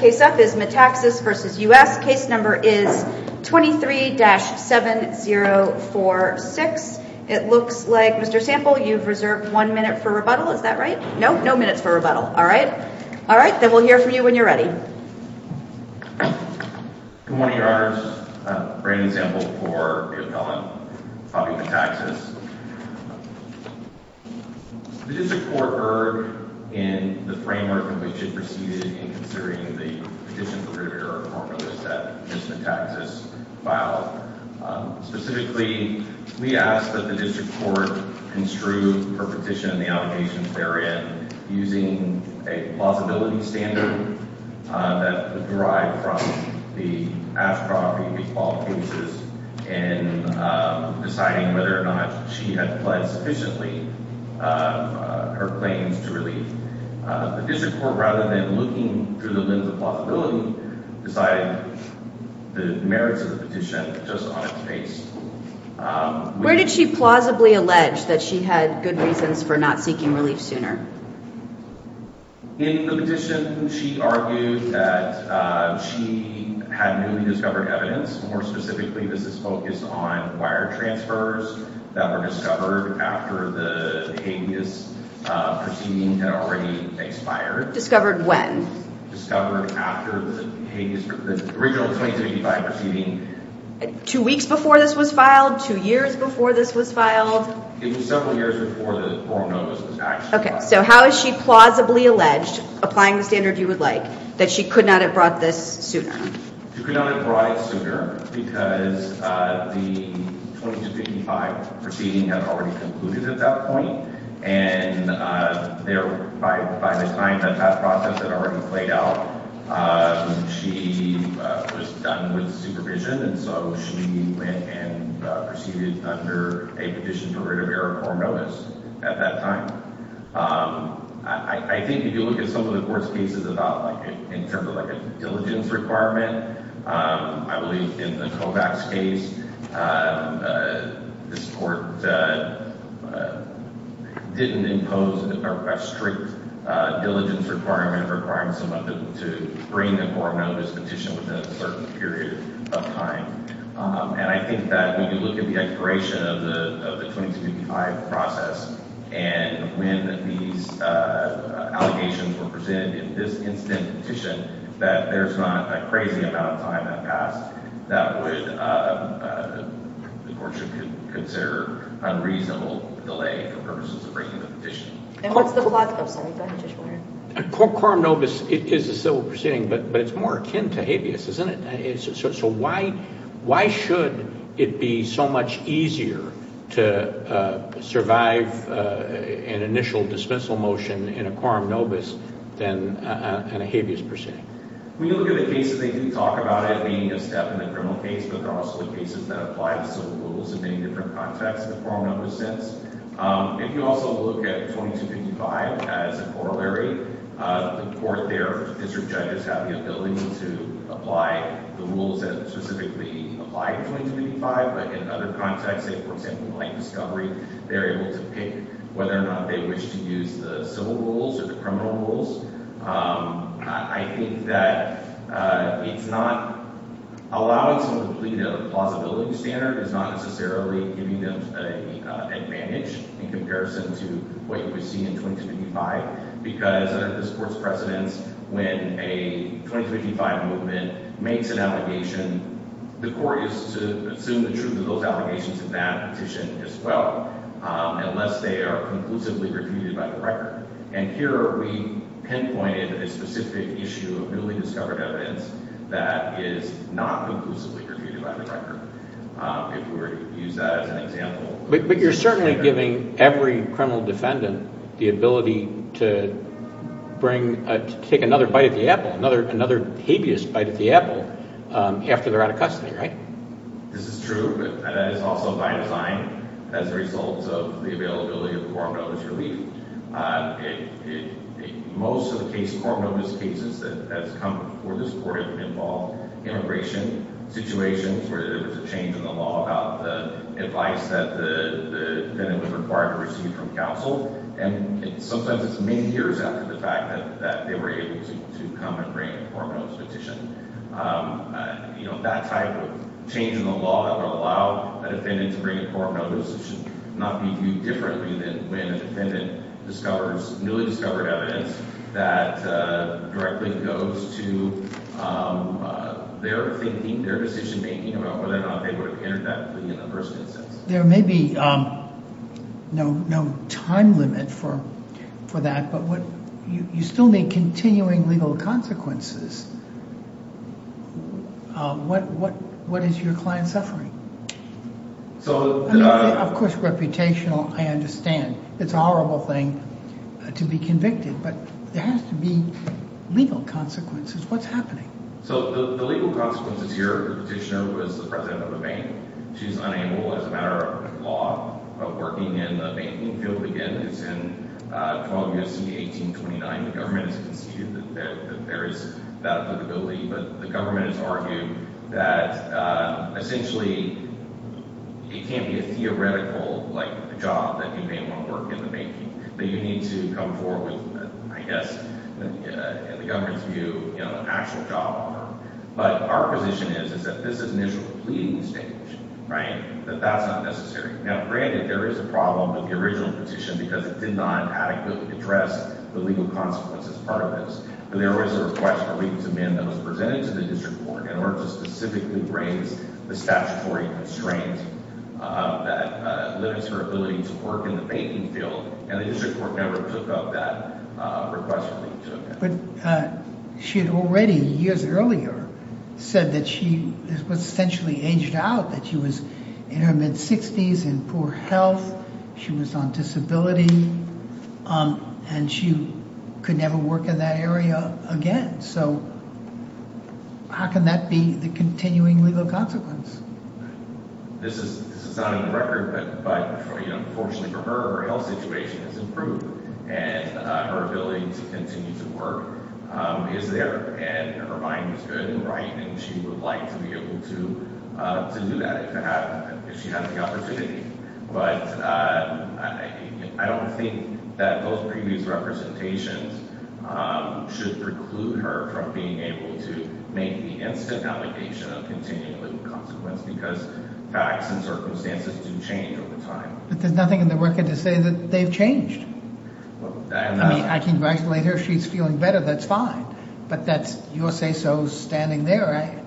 The next case up is Metaxas v. U.S. Case number is 23-7046. It looks like, Mr. Sample, you've reserved one minute for rebuttal. Is that right? No, no minutes for rebuttal. All right. All right, then we'll hear from you when you're ready. Good morning, Your Honors. Brandon Sample for the appellant, Bobby Metaxas. The district court erred in the framework in which it proceeded in considering the petition prohibitor formula that Mr. Metaxas filed. Specifically, we ask that the district court construe for petition the allegations therein using a plausibility standard that derived from the Ashcroft v. McFaul cases in deciding whether or not she had pled sufficiently her claims to relief. The district court, rather than looking through the limits of plausibility, decided the merits of the petition just on its face. Where did she plausibly allege that she had good reasons for not seeking relief sooner? In the petition, she argued that she had newly discovered evidence. More specifically, this is focused on wire transfers that were discovered after the habeas proceeding had already expired. Discovered when? Discovered after the original 2285 proceeding. Two weeks before this was filed? Two years before this was filed? It was several years before the formal notice was actually filed. Okay, so how is she plausibly alleged, applying the standard you would like, that she could not have brought this sooner? She could not have brought it sooner because the 2285 proceeding had already concluded at that point. And by the time that that process had already played out, she was done with supervision. And so she went and proceeded under a petition for writ of error, formal notice, at that time. I think if you look at some of the court's cases in terms of a diligence requirement, I believe in the Kovacs case, this court didn't impose a strict diligence requirement to bring the formal notice petition within a certain period of time. And I think that when you look at the expiration of the 2285 process, and when these allegations were presented in this instant petition, that there's not a crazy amount of time that passed that the court should consider unreasonable delay for purposes of bringing the petition. Quorum nobis is a civil proceeding, but it's more akin to habeas, isn't it? So why should it be so much easier to survive an initial dismissal motion in a quorum nobis than in a habeas proceeding? When you look at the cases, they do talk about it being a step in the criminal case, but they're also the cases that apply to civil rules in many different contexts in a quorum nobis sense. If you also look at 2255 as a corollary, the court there, district judges, have the ability to apply the rules that specifically apply to 2255, but in other contexts, say, for example, in light discovery, they're able to pick whether or not they wish to use the civil rules or the criminal rules. I think that it's not allowing someone to plead out of the plausibility standard is not necessarily giving them an advantage in comparison to what you would see in 2255, because under this court's precedence, when a 2255 movement makes an allegation, the court is to assume the truth of those allegations in that petition as well, unless they are conclusively refuted by the record. And here we pinpointed a specific issue of newly discovered evidence that is not conclusively refuted by the record, if we were to use that as an example. But you're certainly giving every criminal defendant the ability to take another bite at the apple, another habeas bite at the apple, after they're out of custody, right? This is true, but that is also by design as a result of the availability of the quorum nobis relief. Most of the quorum nobis cases that have come before this court have involved immigration situations where there was a change in the law about the advice that the defendant was required to receive from counsel, and sometimes it's many years after the fact that they were able to come and bring a quorum nobis petition. That type of change in the law that would allow a defendant to bring a quorum nobis should not be viewed differently than when a defendant discovers newly discovered evidence that directly goes to their thinking, their decision-making, about whether or not they would have entered that plea in the first instance. There may be no time limit for that, but you still need continuing legal consequences. What is your client suffering? Of course, reputational, I understand. It's a horrible thing to be convicted, but there has to be legal consequences. What's happening? The legal consequences here, the petitioner was the president of the bank. She's unable, as a matter of law, of working in the banking field again. It's in 12 U.S.C. 1829. The government has constituted that there is that liability, but the government has argued that, essentially, it can't be a theoretical job that you may want to work in the banking. You need to come forward with, I guess, in the government's view, an actual job offer. But our position is that this is an issue of pleading stage, right? That that's not necessary. Now, granted, there is a problem with the original petition because it did not adequately address the legal consequences part of this, but there was a request for legal to amend that was presented to the district court in order to specifically raise the statutory constraint that limits her ability to work in the banking field, and the district court never took up that request. But she had already, years earlier, said that she was essentially aged out, that she was in her mid-60s, in poor health, she was on disability, and she could never work in that area again. So how can that be the continuing legal consequence? This is not on the record, but unfortunately for her, her health situation has improved, and her ability to continue to work is there, and her mind is good and right, and she would like to be able to do that if she had the opportunity. But I don't think that those previous representations should preclude her from being able to make the instant allegation of continuing legal consequence because facts and circumstances do change over time. But there's nothing in the record to say that they've changed. I mean, I can congratulate her if she's feeling better, that's fine, but that's your say-so standing there.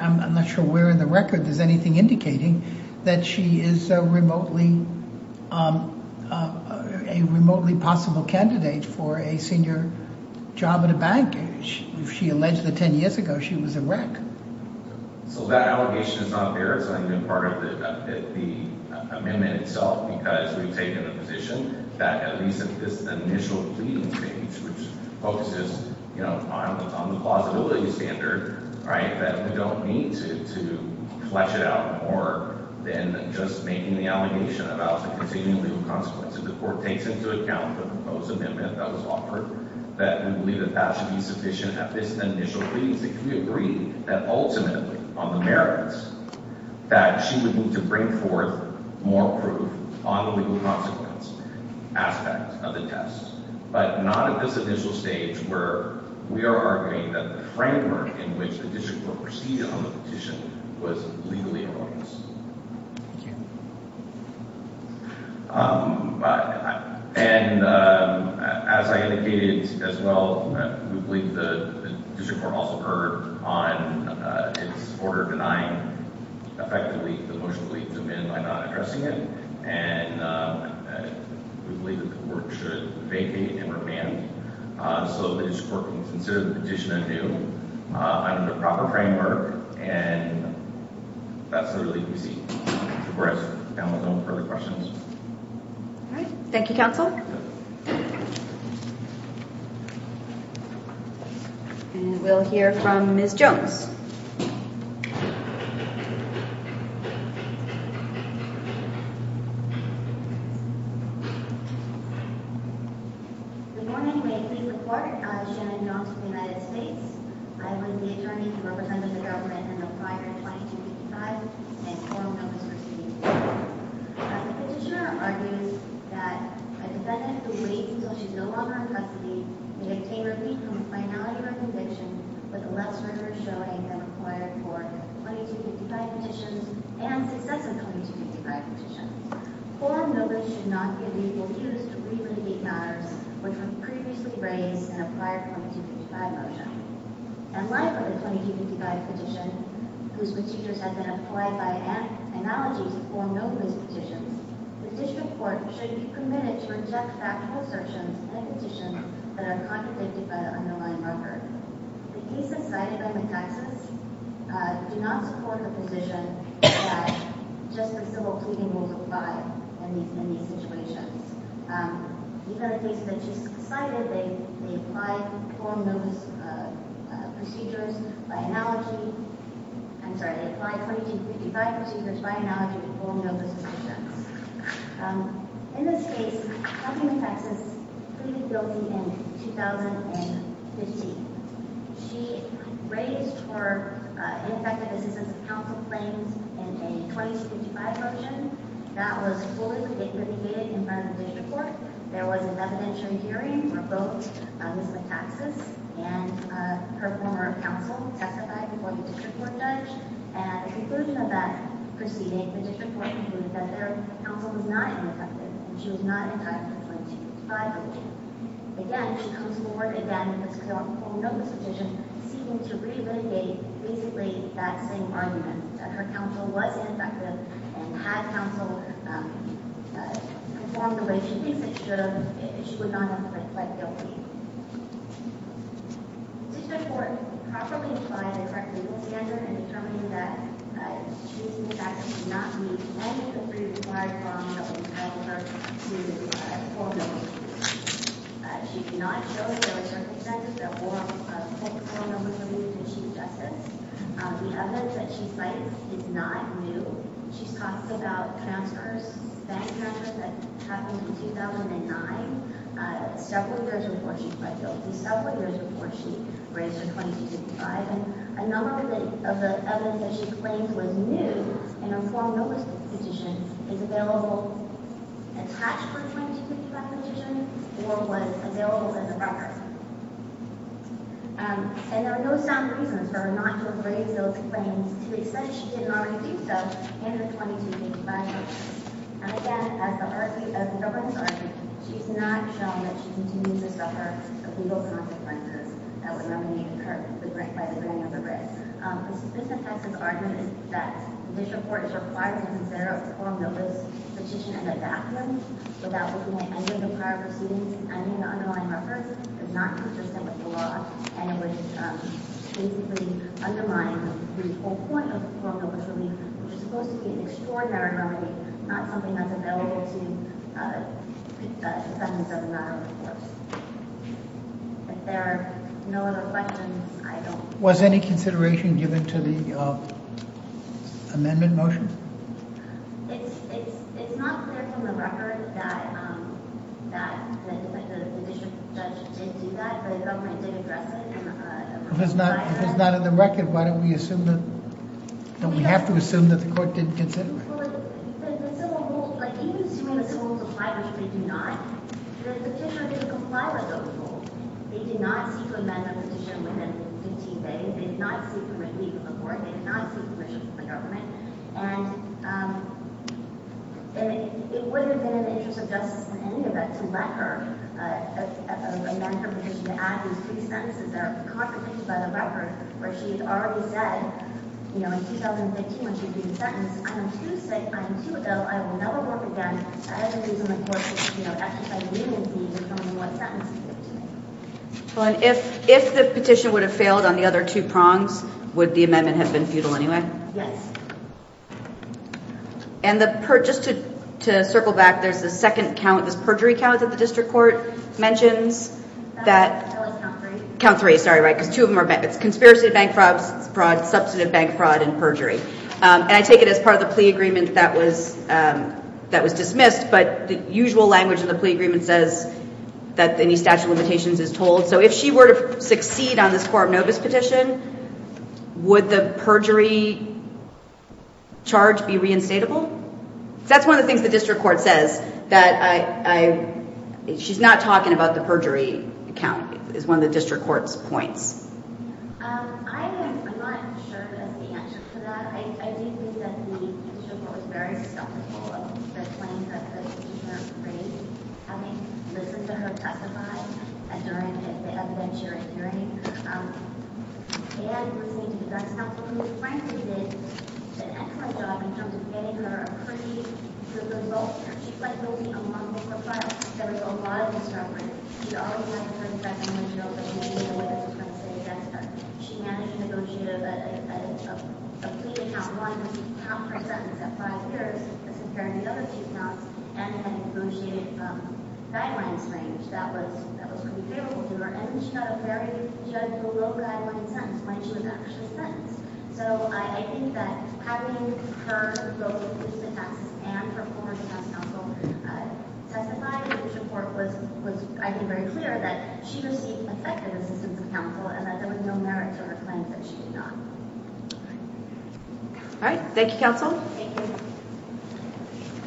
I'm not sure where in the record there's anything indicating that she is a remotely possible candidate for a senior job at a bank. She alleged that 10 years ago she was a rec. So that allegation is not there. It's only been part of the amendment itself because we've taken a position that at least at this initial pleading stage, which focuses on the plausibility standard, that we don't need to flesh it out more than just making the allegation about the continuing legal consequence. If the court takes into account the proposed amendment that was offered, that we believe that that should be sufficient at this initial pleading stage. We agree that ultimately on the merits that she would need to bring forth more proof on the legal consequence aspect of the test, but not at this initial stage where we are arguing that the framework in which the district court proceeded on the petition was legally erroneous. Thank you. And as I indicated as well, we believe the district court also erred on its order denying effectively the motion to leave to amend by not addressing it. And we believe that the work should vacate and remand. So the district court can consider the petition anew under the proper framework and that's the relief we see. That's it. I don't have any further questions. All right. Thank you, counsel. Thank you, counsel. And we'll hear from Ms. Jones. Good morning. My name is Shannon Jones of the United States. I was the attorney representing the government in the prior 2255 and formal notice was received. The petitioner argues that a defendant who waits until she's no longer in custody may obtain relief from the finality of her conviction with a less rigorous showing than required for 2255 petitions and successive 2255 petitions. Form notice should not be reused to re-relate matters which were previously raised in a prior 2255 motion. In light of the 2255 petition, whose procedures have been applied by analogies of formal notice petitions, the district court should be permitted to reject factual assertions in a petition that are contemplated by the underlying record. The cases cited by McTexas do not support the position that just the civil pleading will apply in these situations. Even the cases that she's cited, they apply formal notice procedures by analogy, I'm sorry, they apply 2255 procedures by analogy to formal notice petitions. In this case, County McTexas pleaded guilty in 2015. She raised her ineffective assistance of counsel claims in a 2255 motion. That was fully negated in front of the district court. There was a residential hearing for both Ms. McTexas and her former counsel testified before the district court judge. At the conclusion of that proceeding, the district court concluded that their counsel was not ineffective and she was not entitled to a 2255 motion. Again, she comes forward again with this formal notice petition seeking to re-litigate basically that same argument that her counsel was ineffective and had counsel performed the way she thinks it should have if she would not have pleaded guilty. The district court properly applied a correct legal standard in determining that Ms. McTexas did not meet any of the pre-required requirements that we told her to fulfill. She did not show that there were certain effects that warrant a full court order for her to be issued justice. The evidence that she cited is not new. She talks about bank transfers that happened in 2009, several years before she pled guilty, several years before she raised her 2255. A number of the evidence that she claims was new in her formal notice petition is available attached to her 2255 petition or was available in the record. There are no sound reasons for her not to have raised those claims to the extent she didn't already do so in the 2255 motion. And again, as the government's argument, she has not shown that she continues to suffer the legal consequences that would nominate her by the granting of the writ. Ms. McTexas' argument is that the district court is required to consider a formal notice petition and adapt them without looking at any of the prior proceedings and the underlying reference is not consistent with the law and it would basically undermine the whole point of formal notice relief, which is supposed to be an extraordinary remedy, not something that's available to defendants of a matter of course. If there are no other questions, I don't... Was any consideration given to the amendment motion? It's not clear from the record that the district judge did do that, but the government did address it. If it's not in the record, why don't we assume that... Don't we have to assume that the court didn't consider it? Well, the civil rules... Even assuming the civil rules apply, which they do not, the petitioner didn't comply with those rules. They did not seek to amend the petition within 15 days. They did not seek to relieve the court. They did not seek permission from the government. And it wouldn't have been in the interest of justice in any event to let her amend her petition to add these three sentences that are complicated by the record, where she had already said in 2015 when she repeated the sentence, I'm too sick, I'm too ill, I will never work again, as it is in the court's exercise of leniency to tell me what sentence to give to me. If the petition would have failed on the other two prongs, would the amendment have been futile anyway? Yes. And just to circle back, there's this second count, this perjury count that the district court mentions that... That was count three. Count three, sorry, right, because two of them are... It's conspiracy to bank fraud, substantive bank fraud, and perjury. And I take it as part of the plea agreement that was dismissed, but the usual language in the plea agreement says that any statute of limitations is told. So if she were to succeed on this Corp Novus petition, would the perjury charge be reinstatable? That's one of the things the district court says, that she's not talking about the perjury count is one of the district court's points. I'm not sure that's the answer to that. I do think that the district court was very skeptical of the claims that the petitioner made, having listened to her testify during the evidentiary hearing, and listening to the judge's counsel. And frankly, they did an excellent job in terms of getting her a pretty good result here. She's likely to be among the first. There was a lot of discrepancy. She always went for the second window, but maybe Novus was going to stay against her. She managed to negotiate a plea account that was half her sentence at five years, as compared to the other two counts, and had negotiated guidelines range that was pretty favorable to her. And she got a very judgeable rule guideline sentence when she was actually sentenced. So I think that having her go through the process and her former counsel testify, I think the district court was, I think, very clear that she received effective assistance from counsel and that there was no merit to her claims that she did not. All right. Thank you, counsel. Thank you.